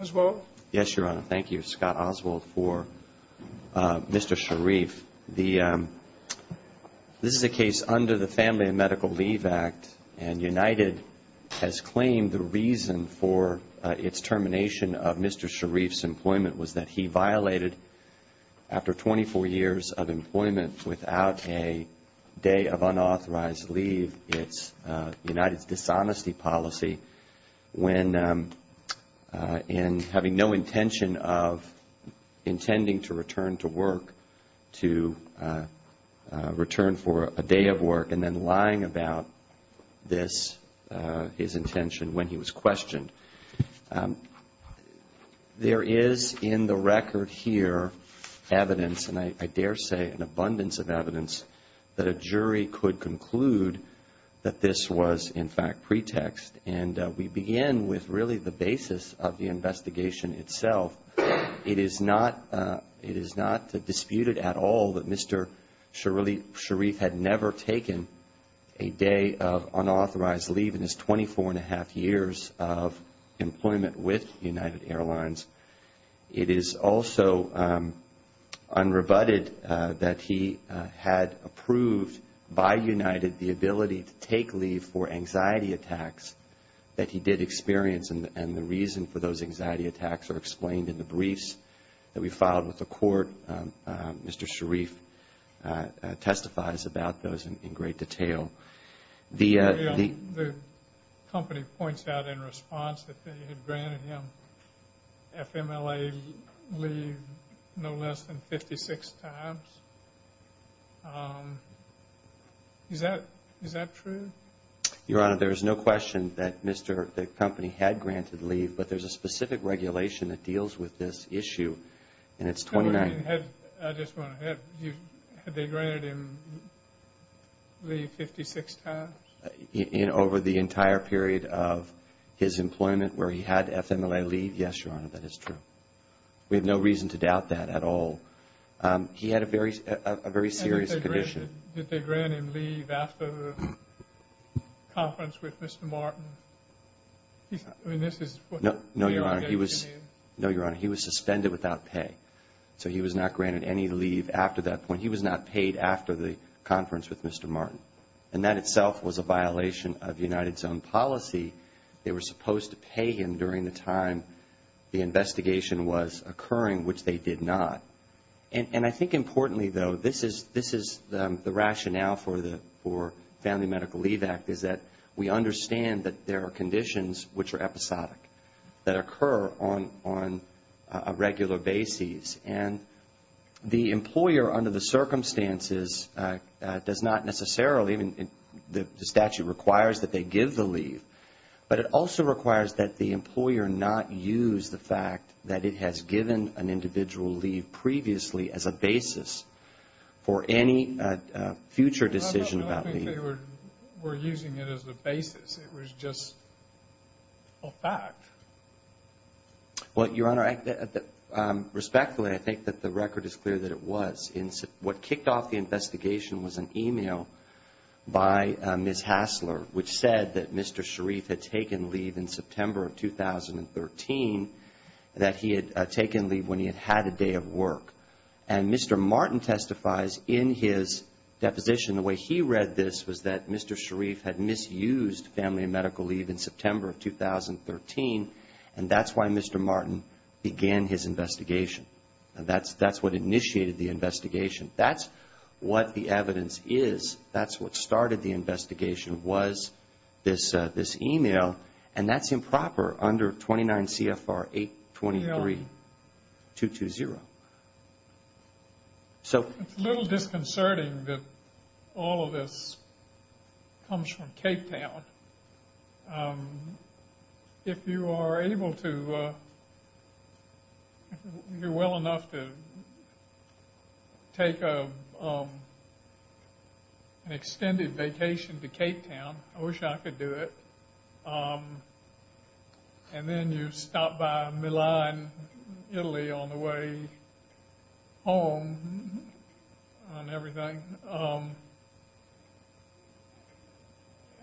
Thank you, Scott Oswald, for Mr. Sharif. This is a case under the Family and Medical Leave Act, and United has claimed the reason for its termination of Mr. Sharif's employment was that he violated, after 24 years of employment, without a day of unauthorized leave, it's United's dishonesty policy. When, in having no intention of intending to return to work, to return for a day of work, and then lying about this, his intention, when he was questioned. There is, in the record here, evidence, and I dare say an abundance of evidence, that a jury could conclude that this was, in fact, pretext. And we begin with, really, the basis of the investigation itself. It is not disputed at all that Mr. Sharif had never taken a day of unauthorized leave in his 24 and a half years of employment with United Airlines. It is also unrebutted that he had approved, by United, the ability to take leave for anxiety attacks that he did experience, and the reason for those anxiety attacks are explained in the briefs that we filed with the court. Mr. Sharif testifies about those in great detail. The company points out in response that they had granted him FMLA leave no less than 56 times. Is that true? Your Honor, there is no question that the company had granted leave, but there is a specific regulation that deals with this issue, and it's 29. I just want to add, had they granted him leave 56 times? Over the entire period of his employment where he had FMLA leave, yes, Your Honor, that is true. We have no reason to doubt that at all. He had a very serious condition. Did they grant him leave after the conference with Mr. Martin? No, Your Honor. He was suspended without pay, so he was not granted any leave after that point. He was not paid after the conference with Mr. Martin, and that itself was a violation of United's own policy. They were supposed to pay him during the time the investigation was occurring, which they did not. And I think importantly, though, this is the rationale for the Family Medical Leave Act, is that we understand that there are conditions which are episodic that occur on a regular basis. And the employer, under the circumstances, does not necessarily, the statute requires that they give the leave, but it also requires that the employer not use the fact that it has given an individual leave previously as a basis for any future decision about leave. I don't think they were using it as a basis. It was just a fact. Well, Your Honor, respectfully, I think that the record is clear that it was. What kicked off the investigation was an email by Ms. Hassler, which said that Mr. Sharif had taken leave in September of 2013, that he had taken leave when he had had a day of work. And Mr. Martin testifies in his deposition, the way he read this was that Mr. Sharif had misused family medical leave in September of 2013, and that's why Mr. Martin began his investigation. That's what initiated the investigation. That's what the evidence is. That's what started the investigation was this email, and that's improper under 29 CFR 823-220. It's a little disconcerting that all of this comes from Cape Town. If you are able to, if you're well enough to take an extended vacation to Cape Town, I wish I could do it, and then you stop by Milan, Italy on the way home and everything,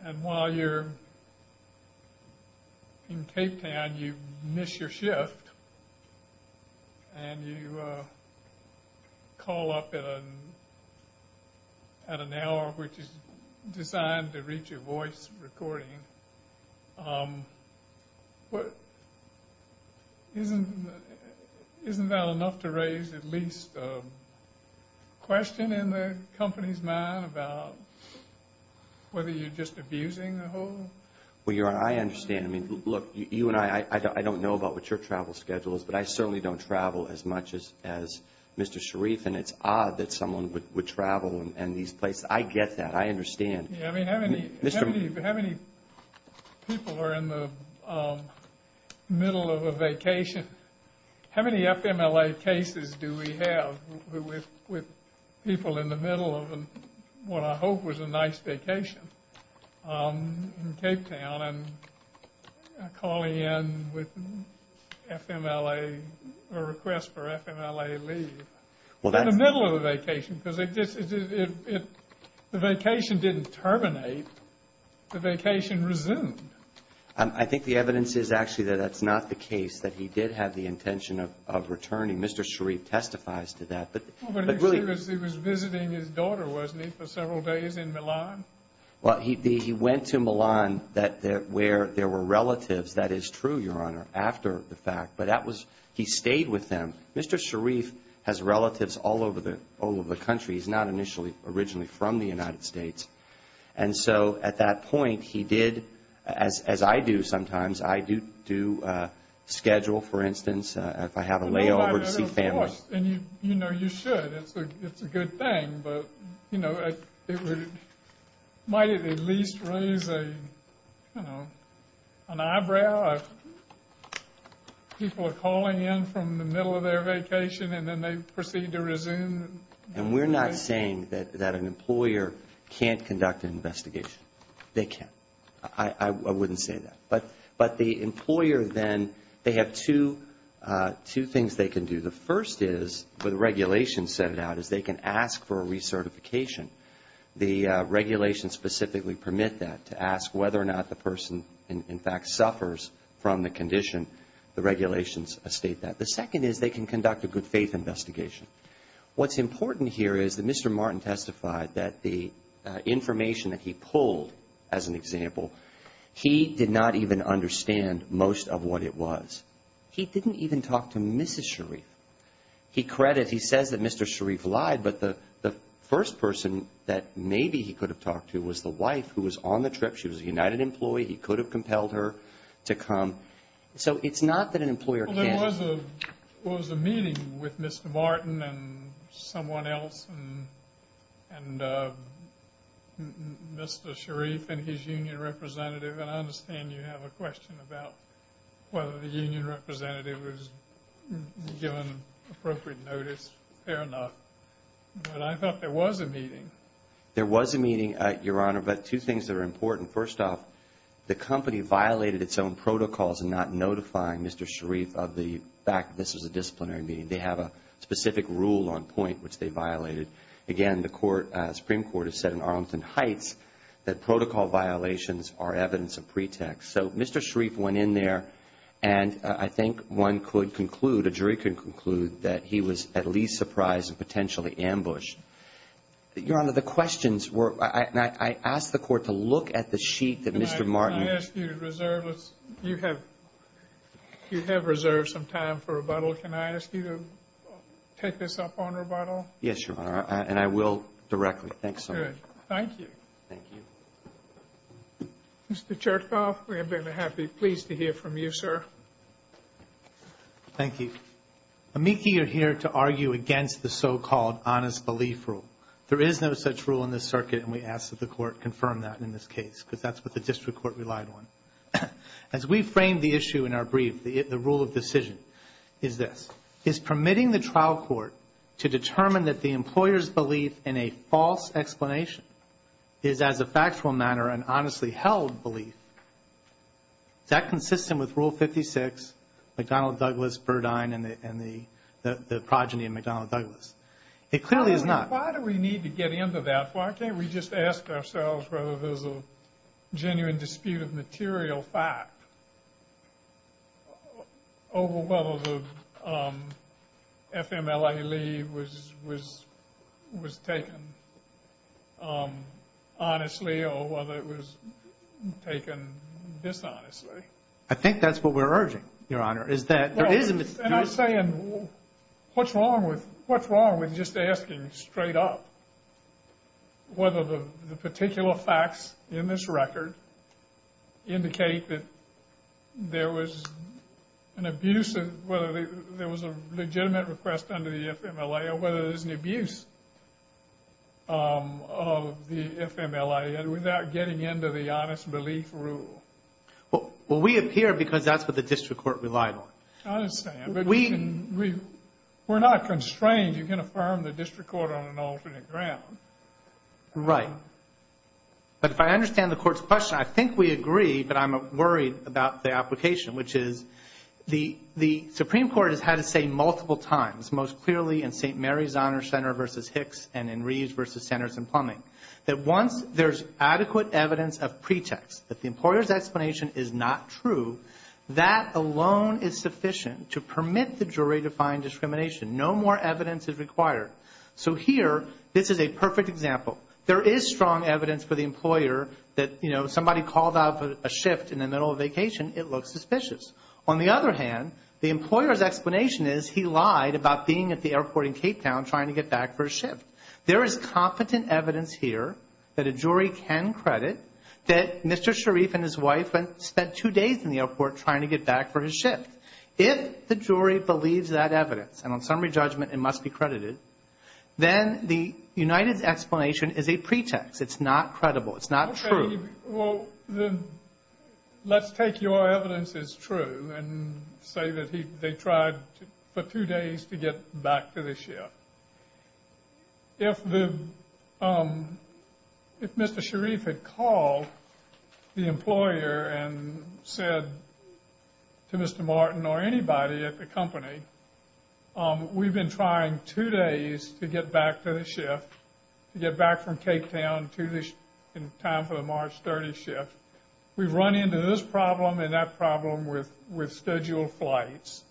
and while you're in Cape Town, you miss your shift, and you call up at an hour which is designed to reach a voice recording. Isn't that enough to raise at least a question in the company's mind about whether you're just abusing the whole? Well, Your Honor, I understand. I mean, look, you and I, I don't know about what your travel schedule is, but I certainly don't travel as much as Mr. Sharif, and it's odd that someone would travel in these places. I get that. I understand. I mean, how many people are in the middle of a vacation? How many FMLA cases do we have with people in the middle of what I hope was a nice vacation in Cape Town and calling in with FMLA, a request for FMLA leave? In the middle of a vacation, because if the vacation didn't terminate, the vacation resumed. I think the evidence is actually that that's not the case, that he did have the intention of returning. Mr. Sharif testifies to that. But really he was visiting his daughter, wasn't he, for several days in Milan? Well, he went to Milan where there were relatives. That is true, Your Honor, after the fact, but he stayed with them. Mr. Sharif has relatives all over the country. He's not originally from the United States. And so at that point he did, as I do sometimes, I do schedule, for instance, if I have a layover to see family. And you know you should. It's a good thing. But, you know, might it at least raise an eyebrow if people are calling in from the middle of their vacation and then they proceed to resume? And we're not saying that an employer can't conduct an investigation. They can. I wouldn't say that. But the employer then, they have two things they can do. The first is, where the regulations set it out, is they can ask for a recertification. The regulations specifically permit that, to ask whether or not the person in fact suffers from the condition. The regulations state that. The second is they can conduct a good faith investigation. What's important here is that Mr. Martin testified that the information that he pulled, as an example, he did not even understand most of what it was. He didn't even talk to Mrs. Sharif. He credited, he says that Mr. Sharif lied, but the first person that maybe he could have talked to was the wife who was on the trip. She was a United employee. He could have compelled her to come. So it's not that an employer can't. Well, there was a meeting with Mr. Martin and someone else and Mr. Sharif and his union representative. And I understand you have a question about whether the union representative was given appropriate notice. Fair enough. But I thought there was a meeting. There was a meeting, Your Honor, but two things that are important. First off, the company violated its own protocols in not notifying Mr. Sharif of the fact this was a disciplinary meeting. They have a specific rule on point which they violated. Again, the Supreme Court has said in Arlington Heights that protocol violations are evidence of pretext. So Mr. Sharif went in there and I think one could conclude, a jury could conclude, that he was at least surprised and potentially ambushed. Your Honor, the questions were, and I asked the court to look at the sheet that Mr. Martin. Can I ask you to reserve, you have reserved some time for rebuttal. Can I ask you to take this up on rebuttal? Yes, Your Honor, and I will directly. Thanks so much. Good. Thank you. Thank you. Mr. Chertoff, we have been happy, pleased to hear from you, sir. Thank you. Amici are here to argue against the so-called honest belief rule. There is no such rule in this circuit and we ask that the court confirm that in this case because that's what the district court relied on. As we framed the issue in our brief, the rule of decision is this. Is permitting the trial court to determine that the employer's belief in a false explanation is, as a factual matter, an honestly held belief, is that consistent with Rule 56, McDonnell Douglas, Burdine, and the progeny of McDonnell Douglas? It clearly is not. Why do we need to get into that? Why can't we just ask ourselves whether there's a genuine dispute of material fact over whether the FMLA leave was taken honestly or whether it was taken dishonestly? I think that's what we're urging, Your Honor, is that there is a dispute. And I'm saying, what's wrong with just asking straight up whether the particular facts in this record indicate that there was an abusive, whether there was a legitimate request under the FMLA or whether there's an abuse of the FMLA without getting into the honest belief rule? Well, we appear because that's what the district court relied on. I understand, but we're not constrained. You can affirm the district court on an alternate ground. Right. But if I understand the Court's question, I think we agree, but I'm worried about the application, which is the Supreme Court has had to say multiple times, most clearly in St. Mary's Honor Center v. Hicks and in Reeves v. Sanderson Plumbing, that once there's adequate evidence of pretext that the employer's explanation is not true, that alone is sufficient to permit the jury to find discrimination. No more evidence is required. So here, this is a perfect example. There is strong evidence for the employer that, you know, somebody called out for a shift in the middle of vacation. It looks suspicious. On the other hand, the employer's explanation is he lied about being at the airport in Cape Town trying to get back for a shift. There is competent evidence here that a jury can credit that Mr. Sharif and his wife spent two days in the airport trying to get back for his shift. If the jury believes that evidence, and on summary judgment it must be credited, then the United's explanation is a pretext. It's not credible. It's not true. Well, let's take your evidence as true and say that they tried for two days to get back to the shift. If Mr. Sharif had called the employer and said to Mr. Martin or anybody at the company, we've been trying two days to get back to the shift, to get back from Cape Town in time for the March 30th shift. We've run into this problem and that problem with scheduled flights.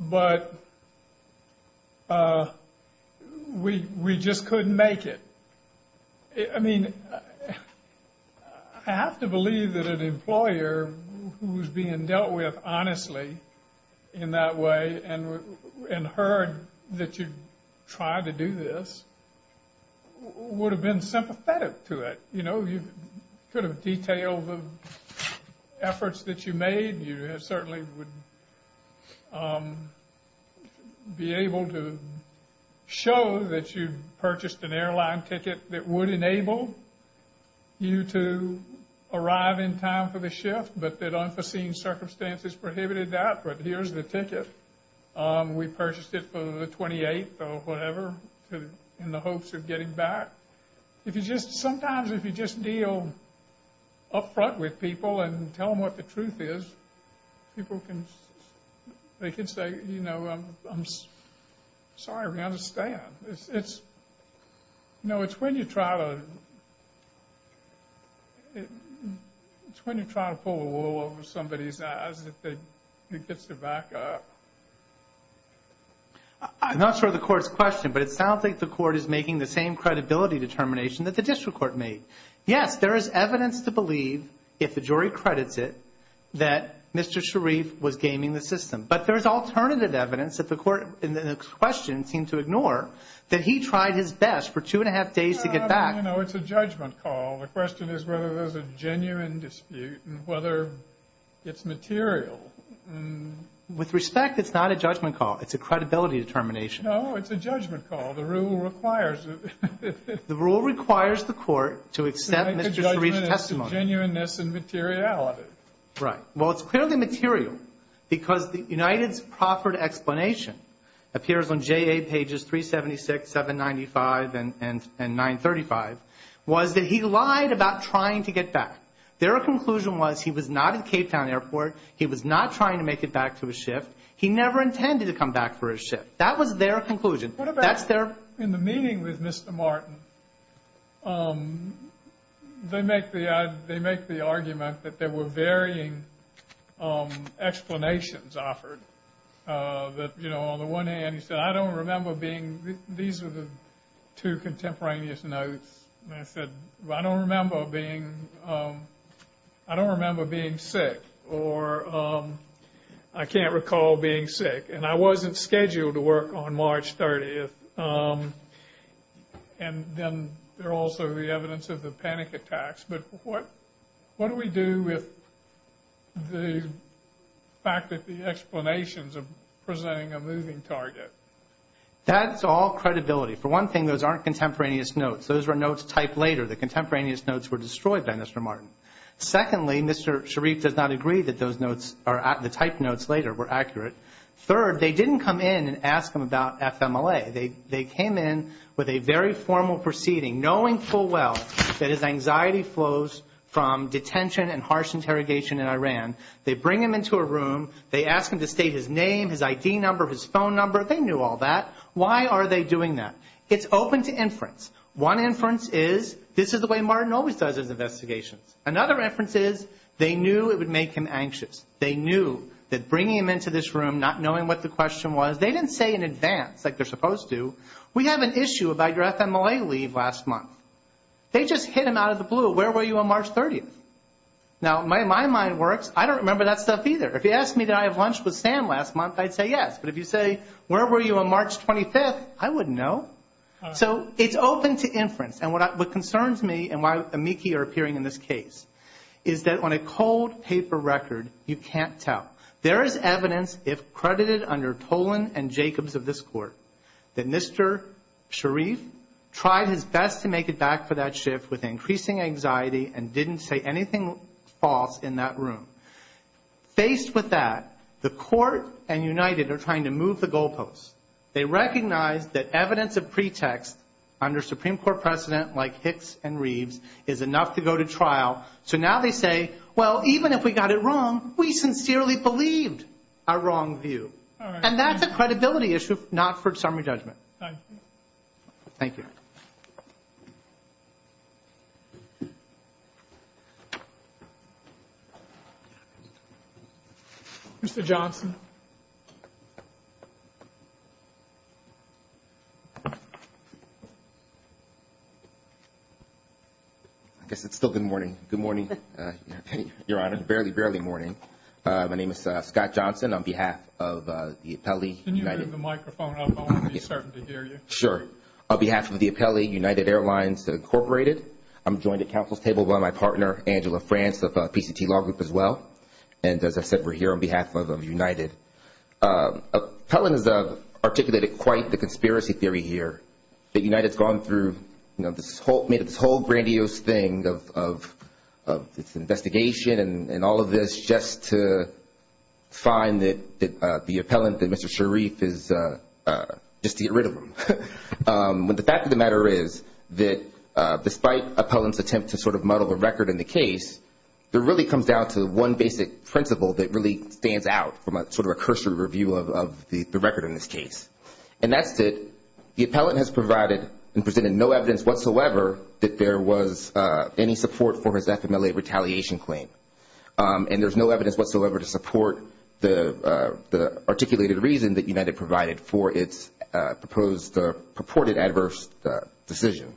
But we just couldn't make it. I mean, I have to believe that an employer who was being dealt with honestly in that way and heard that you tried to do this would have been sympathetic to it. You know, you could have detailed the efforts that you made. You certainly would be able to show that you purchased an airline ticket that would enable you to arrive in time for the shift, but that unforeseen circumstances prohibited that. But here's the ticket. We purchased it for the 28th or whatever in the hopes of getting back. Sometimes if you just deal up front with people and tell them what the truth is, people can say, you know, I'm sorry, we understand. You know, it's when you try to pull the wool over somebody's eyes that it gets their back up. I'm not sure of the court's question, but it sounds like the court is making the same credibility determination that the district court made. Yes, there is evidence to believe, if the jury credits it, that Mr. Sharif was gaming the system. But there is alternative evidence that the court in the question seemed to ignore that he tried his best for two and a half days to get back. You know, it's a judgment call. The question is whether there's a genuine dispute and whether it's material. With respect, it's not a judgment call. It's a credibility determination. No, it's a judgment call. The rule requires it. The rule requires the court to accept Mr. Sharif's testimony. To make a judgment as to genuineness and materiality. Right. Well, it's clearly material because United's proffered explanation appears on JA pages 376, 795, and 935, was that he lied about trying to get back. Their conclusion was he was not at Cape Town Airport. He was not trying to make it back to his shift. He never intended to come back for his shift. That was their conclusion. That's their. In the meeting with Mr. Martin, they make the argument that there were varying explanations offered. That, you know, on the one hand, he said, I don't remember being. These are the two contemporaneous notes. And I said, I don't remember being sick or I can't recall being sick. And I wasn't scheduled to work on March 30th. And then there are also the evidence of the panic attacks. But what do we do with the fact that the explanations are presenting a moving target? That's all credibility. For one thing, those aren't contemporaneous notes. Those were notes typed later. The contemporaneous notes were destroyed by Mr. Martin. Secondly, Mr. Sharif does not agree that those notes, the typed notes later were accurate. Third, they didn't come in and ask him about FMLA. They came in with a very formal proceeding, knowing full well that his anxiety flows from detention and harsh interrogation in Iran. They bring him into a room. They ask him to state his name, his ID number, his phone number. They knew all that. Why are they doing that? It's open to inference. One inference is this is the way Martin always does his investigations. Another inference is they knew it would make him anxious. They knew that bringing him into this room, not knowing what the question was, they didn't say in advance like they're supposed to, we have an issue about your FMLA leave last month. They just hit him out of the blue. Where were you on March 30th? Now, my mind works. I don't remember that stuff either. If you asked me did I have lunch with Sam last month, I'd say yes. But if you say where were you on March 25th, I wouldn't know. So it's open to inference. And what concerns me and why amici are appearing in this case is that on a cold paper record, you can't tell. There is evidence, if credited under Tolan and Jacobs of this court, that Mr. Sharif tried his best to make it back for that shift with increasing anxiety and didn't say anything false in that room. Faced with that, the court and United are trying to move the goalposts. They recognize that evidence of pretext under Supreme Court precedent like Hicks and Reeves is enough to go to trial. So now they say, well, even if we got it wrong, we sincerely believed our wrong view. And that's a credibility issue, not for summary judgment. Thank you. Mr. Johnson. I guess it's still good morning. Good morning, Your Honor. Barely, barely morning. My name is Scott Johnson on behalf of the appellee. Can you bring the microphone up? I want to be certain to hear you. Sure. On behalf of the appellee, United Airlines Incorporated, I'm joined at counsel's table by my partner, Angela France of PCT Law Group as well. And as I said, we're here on behalf of United. Appellant has articulated quite the conspiracy theory here, that United has gone through this whole grandiose thing of investigation and all of this just to find that the appellant, that Mr. Sharif, is just to get rid of him. But the fact of the matter is that despite appellant's attempt to sort of muddle the record in the case, it really comes down to one basic principle that really stands out from sort of a cursory review of the record in this case. And that's that the appellant has provided and presented no evidence whatsoever that there was any support for his FMLA retaliation claim. And there's no evidence whatsoever to support the articulated reason that United provided for its proposed or purported adverse decision.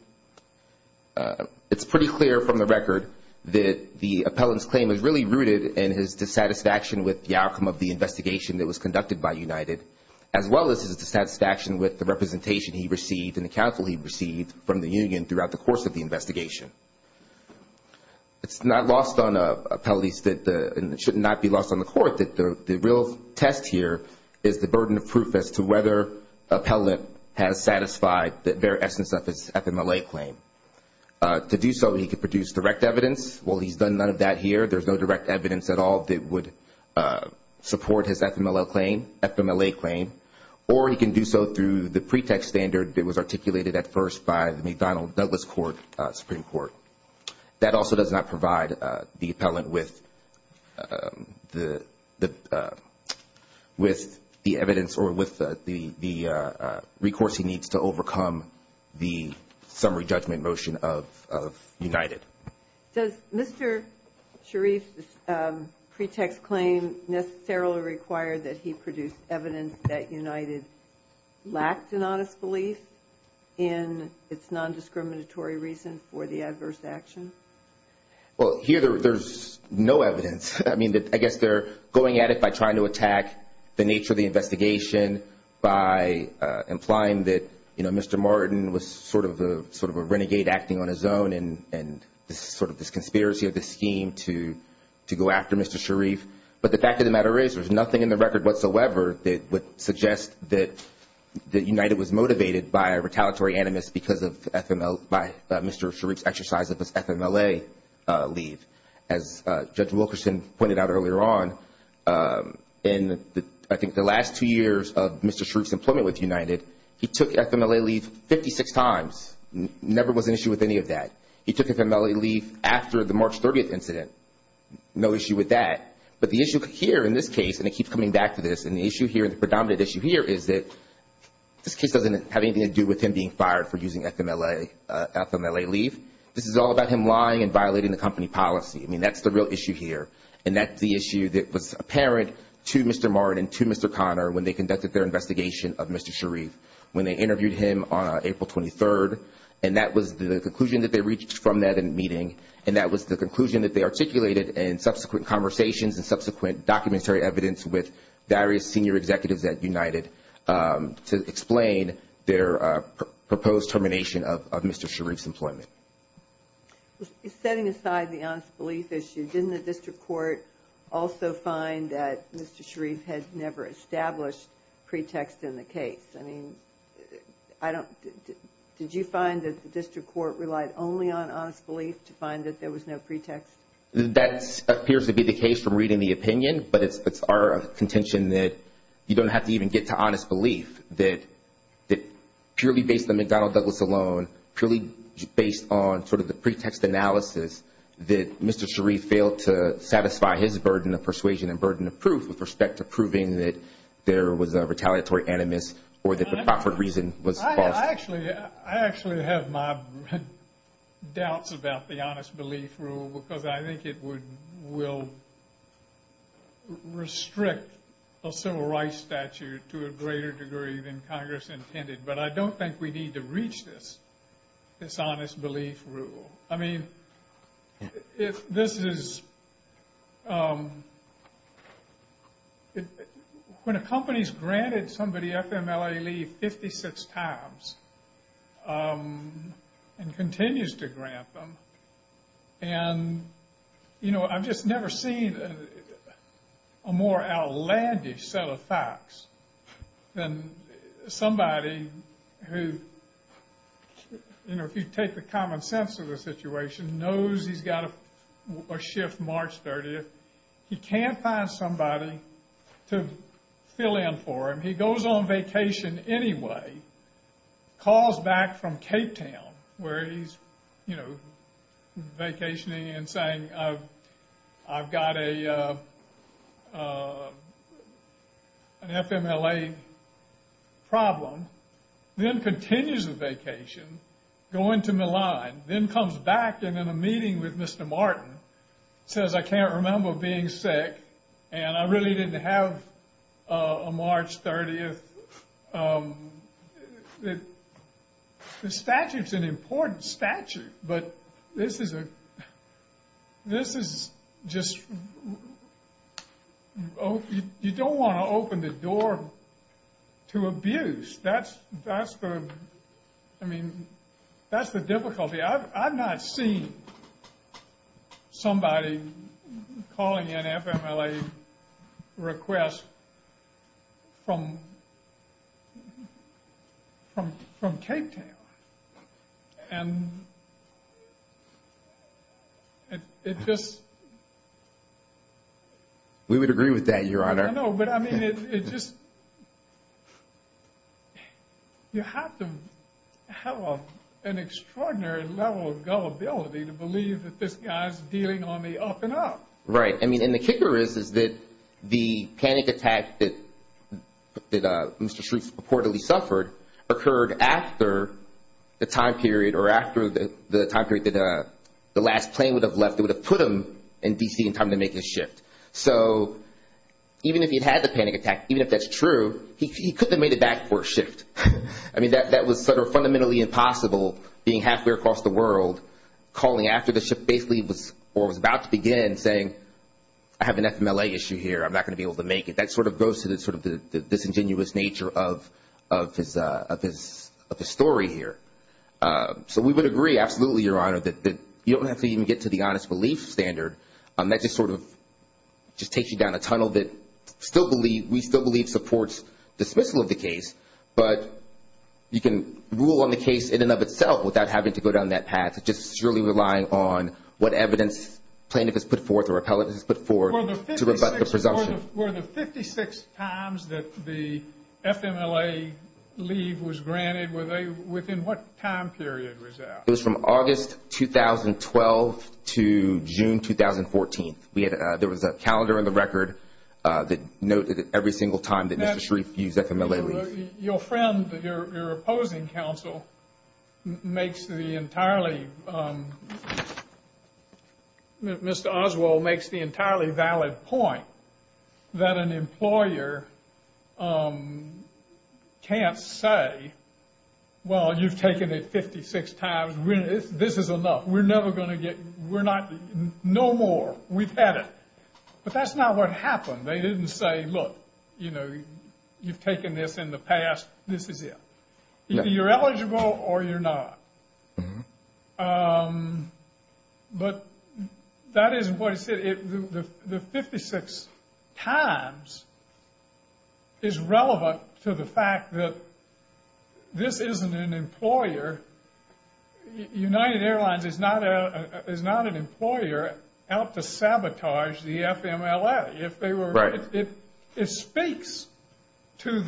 It's pretty clear from the record that the appellant's claim is really rooted in his dissatisfaction with the outcome of the investigation that was conducted by United, as well as his dissatisfaction with the representation he received and the counsel he received from the union throughout the course of the investigation. It's not lost on appellees, and it should not be lost on the court, that the real test here is the burden of proof as to whether appellant has satisfied the very essence of his FMLA claim. To do so, he could produce direct evidence. Well, he's done none of that here. There's no direct evidence at all that would support his FMLA claim. Or he can do so through the pretext standard that was articulated at first by the McDonnell-Douglas Supreme Court. That also does not provide the appellant with the evidence or with the recourse he needs to overcome the summary judgment motion of United. Does Mr. Sharif's pretext claim necessarily require that he produce evidence that United lacked an honest belief in its nondiscriminatory reason for the adverse action? Well, here there's no evidence. I mean, I guess they're going at it by trying to attack the nature of the investigation by implying that, you know, sort of this conspiracy of this scheme to go after Mr. Sharif. But the fact of the matter is there's nothing in the record whatsoever that would suggest that United was motivated by a retaliatory animus because of Mr. Sharif's exercise of his FMLA leave. As Judge Wilkerson pointed out earlier on, in I think the last two years of Mr. Sharif's employment with United, he took FMLA leave 56 times. Never was an issue with any of that. He took FMLA leave after the March 30th incident. No issue with that. But the issue here in this case, and it keeps coming back to this, and the issue here, the predominant issue here is that this case doesn't have anything to do with him being fired for using FMLA leave. This is all about him lying and violating the company policy. I mean, that's the real issue here. And that's the issue that was apparent to Mr. Martin and to Mr. Conner when they conducted their investigation of Mr. Sharif, when they interviewed him on April 23rd. And that was the conclusion that they reached from that meeting, and that was the conclusion that they articulated in subsequent conversations and subsequent documentary evidence with various senior executives at United to explain their proposed termination of Mr. Sharif's employment. Setting aside the honest belief issue, didn't the district court also find that Mr. Sharif had never established pretext in the case? I mean, did you find that the district court relied only on honest belief to find that there was no pretext? That appears to be the case from reading the opinion, but it's our contention that you don't have to even get to honest belief, that purely based on McDonnell Douglas alone, purely based on sort of the pretext analysis, that Mr. Sharif failed to satisfy his burden of persuasion and burden of proof with respect to proving that there was a retaliatory animus or that the proffered reason was false. I actually have my doubts about the honest belief rule, because I think it will restrict a civil rights statute to a greater degree than Congress intended. But I don't think we need to reach this, this honest belief rule. I mean, if this is, when a company's granted somebody FMLA leave 56 times and continues to grant them, and, you know, I've just never seen a more outlandish set of facts than somebody who, you know, if you take the common sense of the situation, knows he's got a shift March 30th, he can't find somebody to fill in for him, he goes on vacation anyway, calls back from Cape Town where he's, you know, vacationing and saying, I've got an FMLA problem, then continues the vacation, going to Milan, then comes back and in a meeting with Mr. Martin, says I can't remember being sick, and I really didn't have a March 30th. The statute's an important statute, but this is just, you don't want to open the door to abuse. That's the, I mean, that's the difficulty. I've not seen somebody calling in FMLA requests from Cape Town. And it just... We would agree with that, Your Honor. I know, but I mean, it just, you have to have an extraordinary level of gullibility to believe that this guy's dealing on me up and up. Right. I mean, and the kicker is, is that the panic attack that Mr. Shreves reportedly suffered occurred after the time period, or after the time period that the last plane would have left that would have put him in D.C. in time to make his shift. So even if he'd had the panic attack, even if that's true, he couldn't have made it back for a shift. I mean, that was sort of fundamentally impossible, being halfway across the world, calling after the shift basically, or was about to begin, saying I have an FMLA issue here, I'm not going to be able to make it. That sort of goes to the sort of disingenuous nature of his story here. So we would agree, absolutely, Your Honor, that you don't have to even get to the honest relief standard. That just sort of takes you down a tunnel that we still believe supports dismissal of the case, but you can rule on the case in and of itself without having to go down that path, just surely relying on what evidence plaintiff has put forth or appellate has put forth to rebut the presumption. Were the 56 times that the FMLA leave was granted, within what time period was that? It was from August 2012 to June 2014. There was a calendar in the record that noted it every single time that Mr. Shreef used that FMLA leave. Your friend, your opposing counsel, makes the entirely, Mr. Oswald, makes the entirely valid point that an employer can't say, well, you've taken it 56 times. This is enough. We're never going to get, we're not, no more. We've had it. But that's not what happened. They didn't say, look, you know, you've taken this in the past. This is it. You're eligible or you're not. But that isn't what he said. The 56 times is relevant to the fact that this isn't an employer. United Airlines is not an employer out to sabotage the FMLA. It speaks to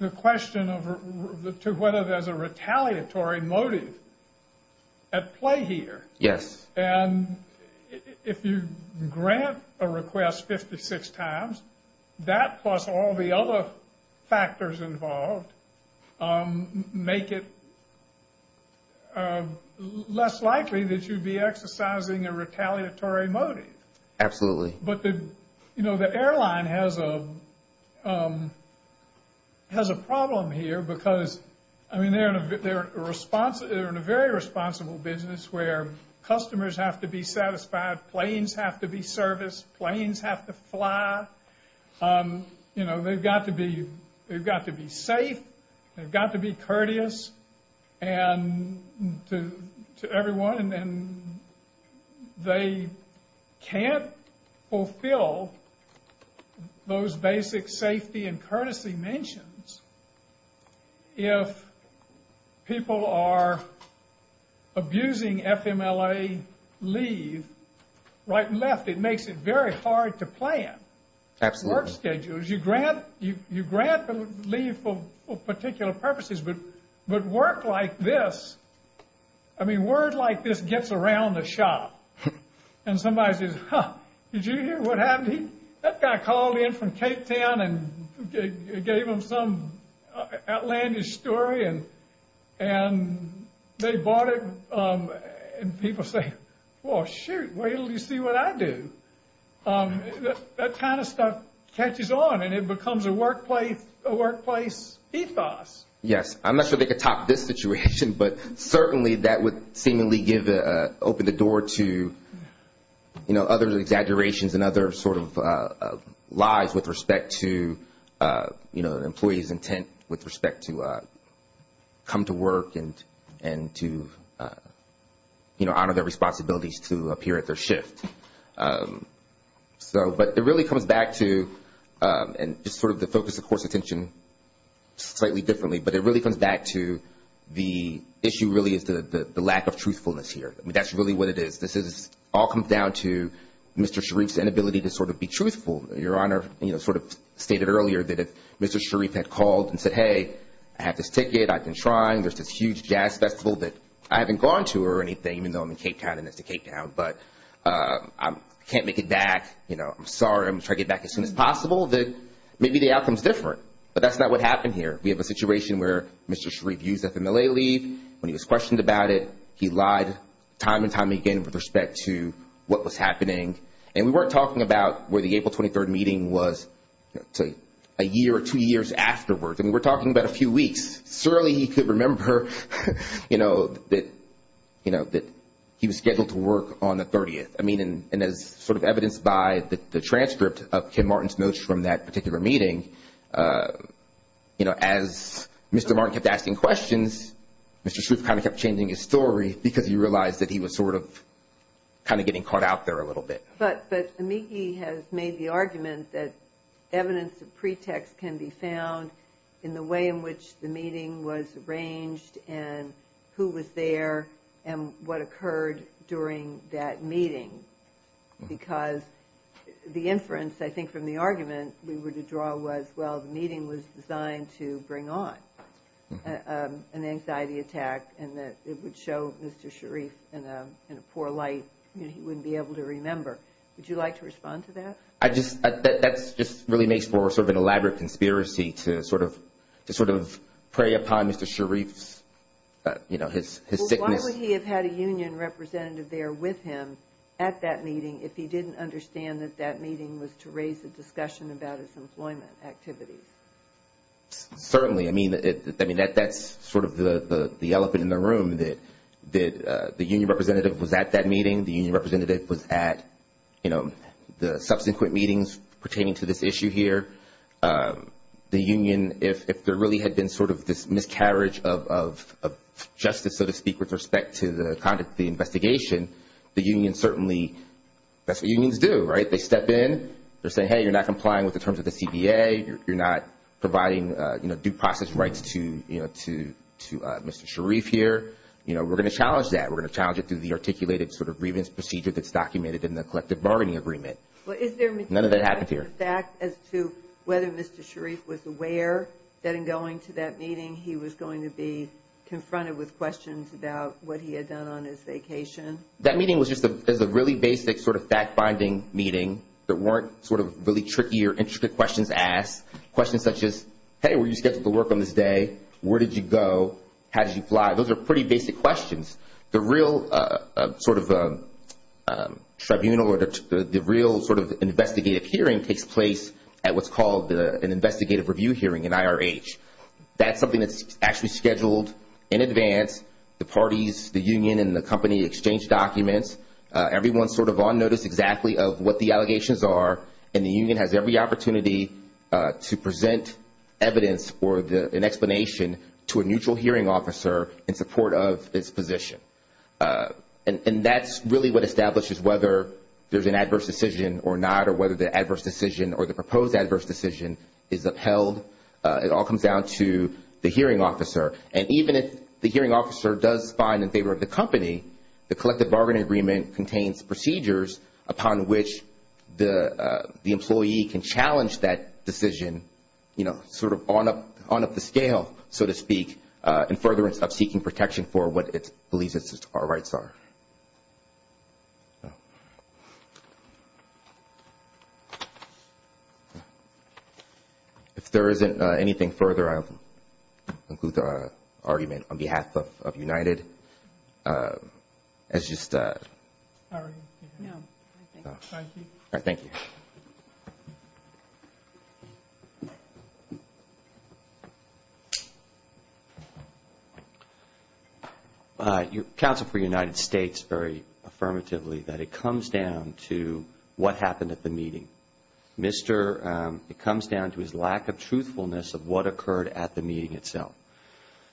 the question of whether there's a retaliatory motive at play here. Yes. And if you grant a request 56 times, that plus all the other factors involved, make it less likely that you'd be exercising a retaliatory motive. Absolutely. But, you know, the airline has a problem here because, I mean, they're in a very responsible business where customers have to be satisfied, planes have to be serviced, planes have to fly. You know, they've got to be safe. They've got to be courteous to everyone. And they can't fulfill those basic safety and courtesy mentions if people are abusing FMLA leave right and left. It makes it very hard to plan work schedules. You grant leave for particular purposes, but work like this, I mean, work like this gets around the shop. And somebody says, huh, did you hear what happened? That guy called in from Cape Town and gave them some outlandish story, and they bought it. And people say, well, shoot, wait until you see what I do. That kind of stuff catches on, and it becomes a workplace ethos. Yes. I'm not sure they could top this situation, but certainly that would seemingly open the door to, you know, other exaggerations and other sort of lies with respect to, you know, an employee's intent with respect to come to work and to, you know, honor their responsibilities to appear at their shift. But it really comes back to just sort of the focus, of course, slightly differently, but it really comes back to the issue really is the lack of truthfulness here. I mean, that's really what it is. This all comes down to Mr. Sharif's inability to sort of be truthful. Your Honor, you know, sort of stated earlier that if Mr. Sharif had called and said, hey, I have this ticket. I've been trying. There's this huge jazz festival that I haven't gone to or anything, even though I'm in Cape Town and it's the Cape Town, but I can't make it back. You know, I'm sorry. I'm going to try to get back as soon as possible. Maybe the outcome is different, but that's not what happened here. We have a situation where Mr. Sharif used FMLA leave when he was questioned about it. He lied time and time again with respect to what was happening, and we weren't talking about where the April 23rd meeting was a year or two years afterwards. I mean, we're talking about a few weeks. Surely he could remember, you know, that he was scheduled to work on the 30th. I mean, and as sort of evidenced by the transcript of Ken Martin's notes from that particular meeting, you know, as Mr. Martin kept asking questions, Mr. Sharif kind of kept changing his story because he realized that he was sort of kind of getting caught out there a little bit. But Amiki has made the argument that evidence of pretext can be found in the way in which the meeting was arranged and who was there and what occurred during that meeting. Because the inference, I think, from the argument we were to draw was, well, the meeting was designed to bring on an anxiety attack and that it would show Mr. Sharif in a poor light, you know, he wouldn't be able to remember. Would you like to respond to that? That just really makes for sort of an elaborate conspiracy to sort of prey upon Mr. Sharif's, you know, his sickness. Well, why would he have had a union representative there with him at that meeting if he didn't understand that that meeting was to raise a discussion about his employment activities? Certainly. I mean, that's sort of the elephant in the room, that the union representative was at that meeting, the union representative was at, you know, the subsequent meetings pertaining to this issue here. The union, if there really had been sort of this miscarriage of justice, so to speak, with respect to the conduct of the investigation, the union certainly, that's what unions do, right? They step in. They're saying, hey, you're not complying with the terms of the CBA. You're not providing due process rights to Mr. Sharif here. You know, we're going to challenge that. We're going to challenge it through the articulated sort of grievance procedure that's documented in the collective bargaining agreement. None of that happened here. Is there materiality to the fact as to whether Mr. Sharif was aware that in going to that meeting he was going to be confronted with questions about what he had done on his vacation? That meeting was just a really basic sort of fact-binding meeting that weren't sort of really tricky or intricate questions asked, questions such as, hey, were you scheduled to work on this day? Where did you go? How did you fly? Those are pretty basic questions. The real sort of tribunal or the real sort of investigative hearing takes place at what's called an investigative review hearing, an IRH. That's something that's actually scheduled in advance. The parties, the union and the company exchange documents. Everyone's sort of on notice exactly of what the allegations are, and the union has every opportunity to present evidence or an explanation to a neutral hearing officer in support of its position. And that's really what establishes whether there's an adverse decision or not, or whether the adverse decision or the proposed adverse decision is upheld. It all comes down to the hearing officer. And even if the hearing officer does find in favor of the company, the collective bargaining agreement contains procedures upon which the employee can challenge that decision, sort of on up the scale, so to speak, in furtherance of seeking protection for what it believes are rights are. If there isn't anything further, I'll conclude the argument on behalf of United. It's just a... Sorry. No. Thank you. Thank you. Thank you. Counsel for United States very affirmatively that it comes down to what happened at the meeting. Mr. It comes down to his lack of truthfulness of what occurred at the meeting itself.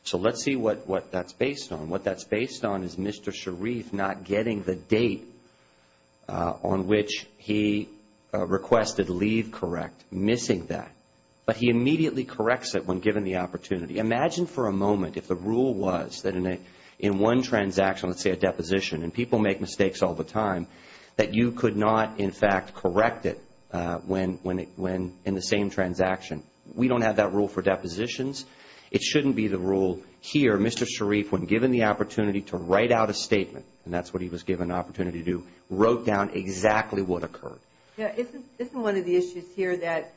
So let's see what that's based on. What that's based on is Mr. Sharif not getting the date on which he requested leave correct, missing that. But he immediately corrects it when given the opportunity. Imagine for a moment if the rule was that in one transaction, let's say a deposition, and people make mistakes all the time, that you could not, in fact, correct it in the same transaction. We don't have that rule for depositions. It shouldn't be the rule here. Mr. Sharif, when given the opportunity to write out a statement, and that's what he was given an opportunity to do, wrote down exactly what occurred. Yeah. Isn't one of the issues here that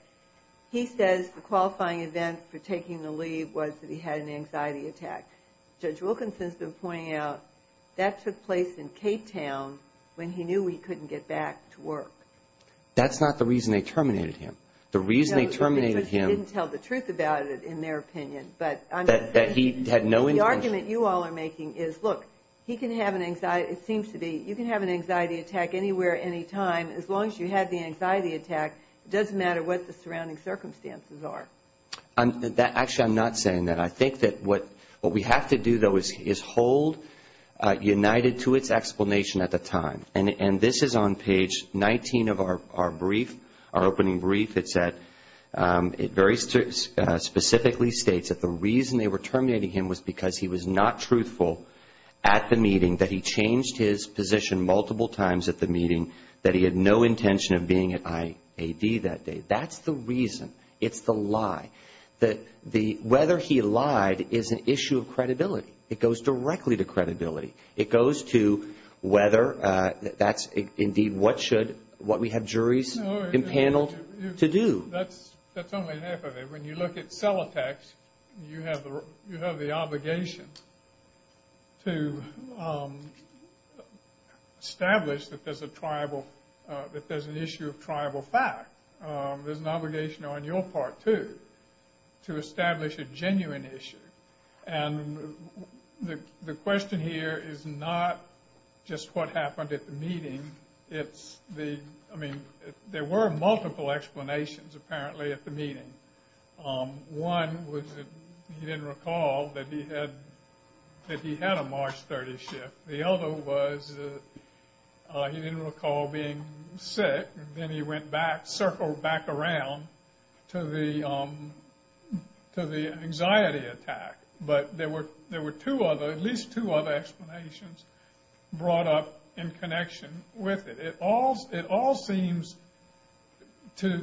he says the qualifying event for taking the leave was that he had an anxiety attack? Judge Wilkinson's been pointing out that took place in Cape Town when he knew he couldn't get back to work. That's not the reason they terminated him. The reason they terminated him... No, they just didn't tell the truth about it, in their opinion. The argument you all are making is, look, you can have an anxiety attack anywhere, anytime, as long as you had the anxiety attack. It doesn't matter what the surrounding circumstances are. Actually, I'm not saying that. I think that what we have to do, though, is hold United to its explanation at the time. And this is on page 19 of our brief, our opening brief. It very specifically states that the reason they were terminating him was because he was not truthful at the meeting, that he changed his position multiple times at the meeting, that he had no intention of being at IAD that day. That's the reason. It's the lie. Whether he lied is an issue of credibility. It goes directly to credibility. It goes to whether that's indeed what should, what we have juries and panel to do. That's only half of it. When you look at cell attacks, you have the obligation to establish that there's an issue of tribal fact. There's an obligation on your part, too, to establish a genuine issue. And the question here is not just what happened at the meeting. It's the, I mean, there were multiple explanations, apparently, at the meeting. One was that he didn't recall that he had a March 30 shift. The other was that he didn't recall being sick. Then he went back, circled back around to the anxiety attack. But there were two other, at least two other explanations brought up in connection with it. It all seems to,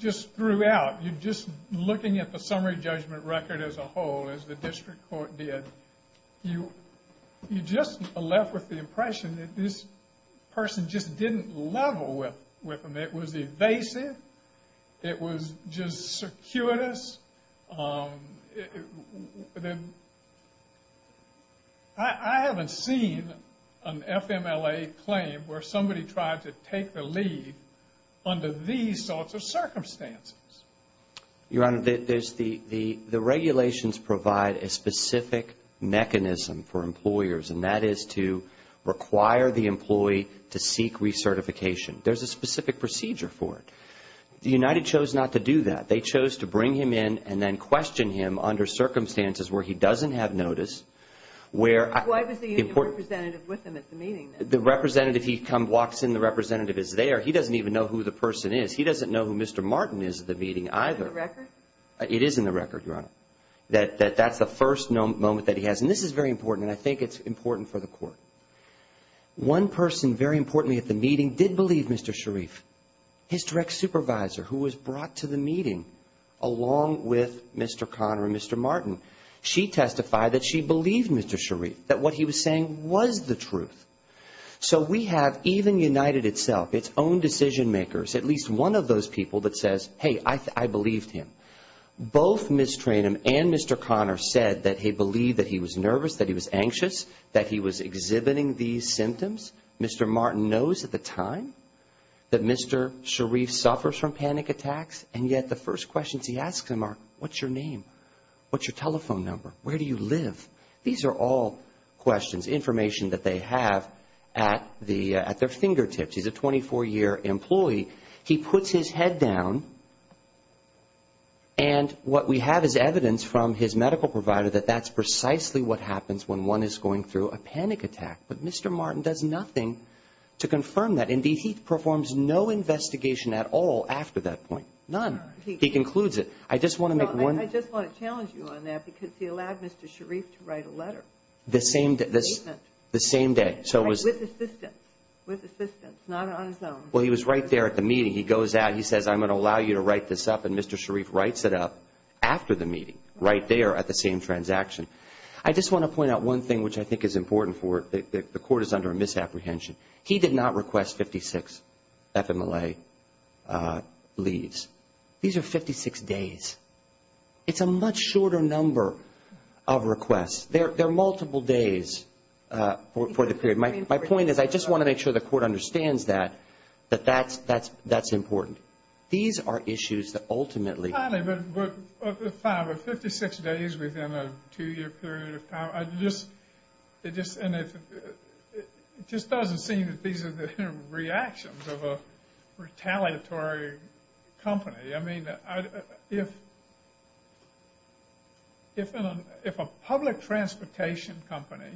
just throughout, you're just looking at the summary judgment record as a whole, as the district court did, you're just left with the impression that this person just didn't level with him. It was evasive. It was just circuitous. I haven't seen an FMLA claim where somebody tried to take the lead under these sorts of circumstances. Your Honor, the regulations provide a specific mechanism for employers. And that is to require the employee to seek recertification. There's a specific procedure for it. The United chose not to do that. They chose to bring him in and then question him under circumstances where he doesn't have notice, where I Why was the union representative with him at the meeting, then? The representative, he walks in, the representative is there. He doesn't even know who the person is. He doesn't know who Mr. Martin is at the meeting either. Is that in the record? It is in the record, Your Honor, that that's the first moment that he has. And this is very important, and I think it's important for the court. One person, very importantly, at the meeting did believe Mr. Sharif, his direct supervisor, who was brought to the meeting, along with Mr. Conner and Mr. Martin. She testified that she believed Mr. Sharif, that what he was saying was the truth. So we have, even United itself, its own decision makers, at least one of those people that says, hey, I believed him. Both Ms. Tranum and Mr. Conner said that they believed that he was nervous, that he was anxious, that he was exhibiting these symptoms. Mr. Martin knows at the time that Mr. Sharif suffers from panic attacks, and yet the first questions he asks him are, what's your name? What's your telephone number? Where do you live? These are all questions, information that they have at their fingertips. He's a 24-year employee. He puts his head down, and what we have is evidence from his medical provider that that's precisely what happens when one is going through a panic attack. But Mr. Martin does nothing to confirm that. Indeed, he performs no investigation at all after that point. None. He concludes it. I just want to challenge you on that because he allowed Mr. Sharif to write a letter. The same day. The same day. With assistance. With assistance, not on his own. Well, he was right there at the meeting. He goes out, he says, I'm going to allow you to write this up, and Mr. Sharif writes it up after the meeting, right there at the same transaction. I just want to point out one thing which I think is important for the court is under a misapprehension. He did not request 56 FMLA leaves. These are 56 days. It's a much shorter number of requests. They're multiple days for the period. My point is I just want to make sure the court understands that, that that's important. These are issues that ultimately. 56 days within a two-year period of time. It just doesn't seem that these are the reactions of a retaliatory company. I mean, if a public transportation company,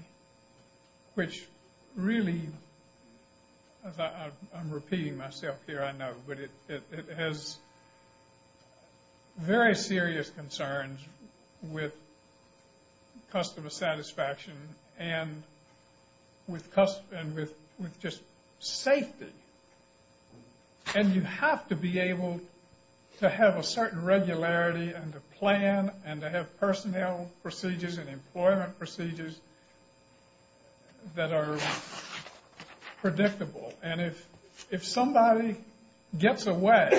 which really, I'm repeating myself here, I know, but it has very serious concerns with customer satisfaction and with just safety. And you have to be able to have a certain regularity and to plan and to have personnel procedures and employment procedures that are predictable. And if somebody gets away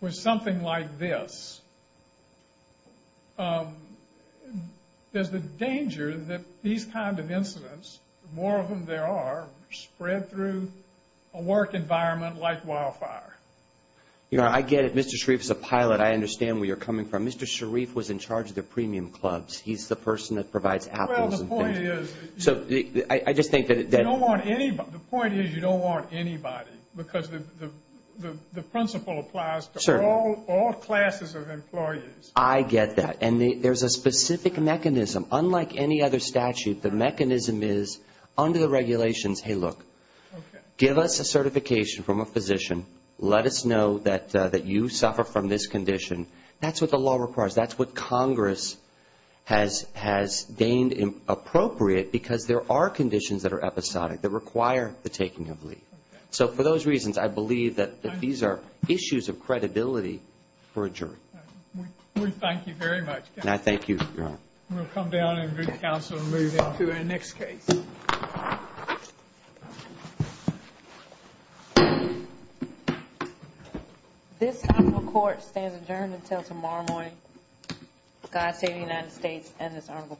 with something like this, there's the danger that these kind of incidents, the more of them there are, spread through a work environment like wildfire. You know, I get it. Mr. Sharif is a pilot. I understand where you're coming from. Mr. Sharif was in charge of the premium clubs. He's the person that provides apples and things. The point is you don't want anybody because the principle applies to all classes of employees. I get that. And there's a specific mechanism. Unlike any other statute, the mechanism is under the regulations, hey, look, give us a certification from a physician. Let us know that you suffer from this condition. That's what the law requires. That's what Congress has deemed appropriate because there are conditions that are episodic that require the taking of leave. So for those reasons, I believe that these are issues of credibility for a jury. We thank you very much, counsel. And I thank you, Your Honor. We'll come down and read the counsel and move into our next case. Thank you. This court stands adjourned until tomorrow morning. God save the United States and this honorable court.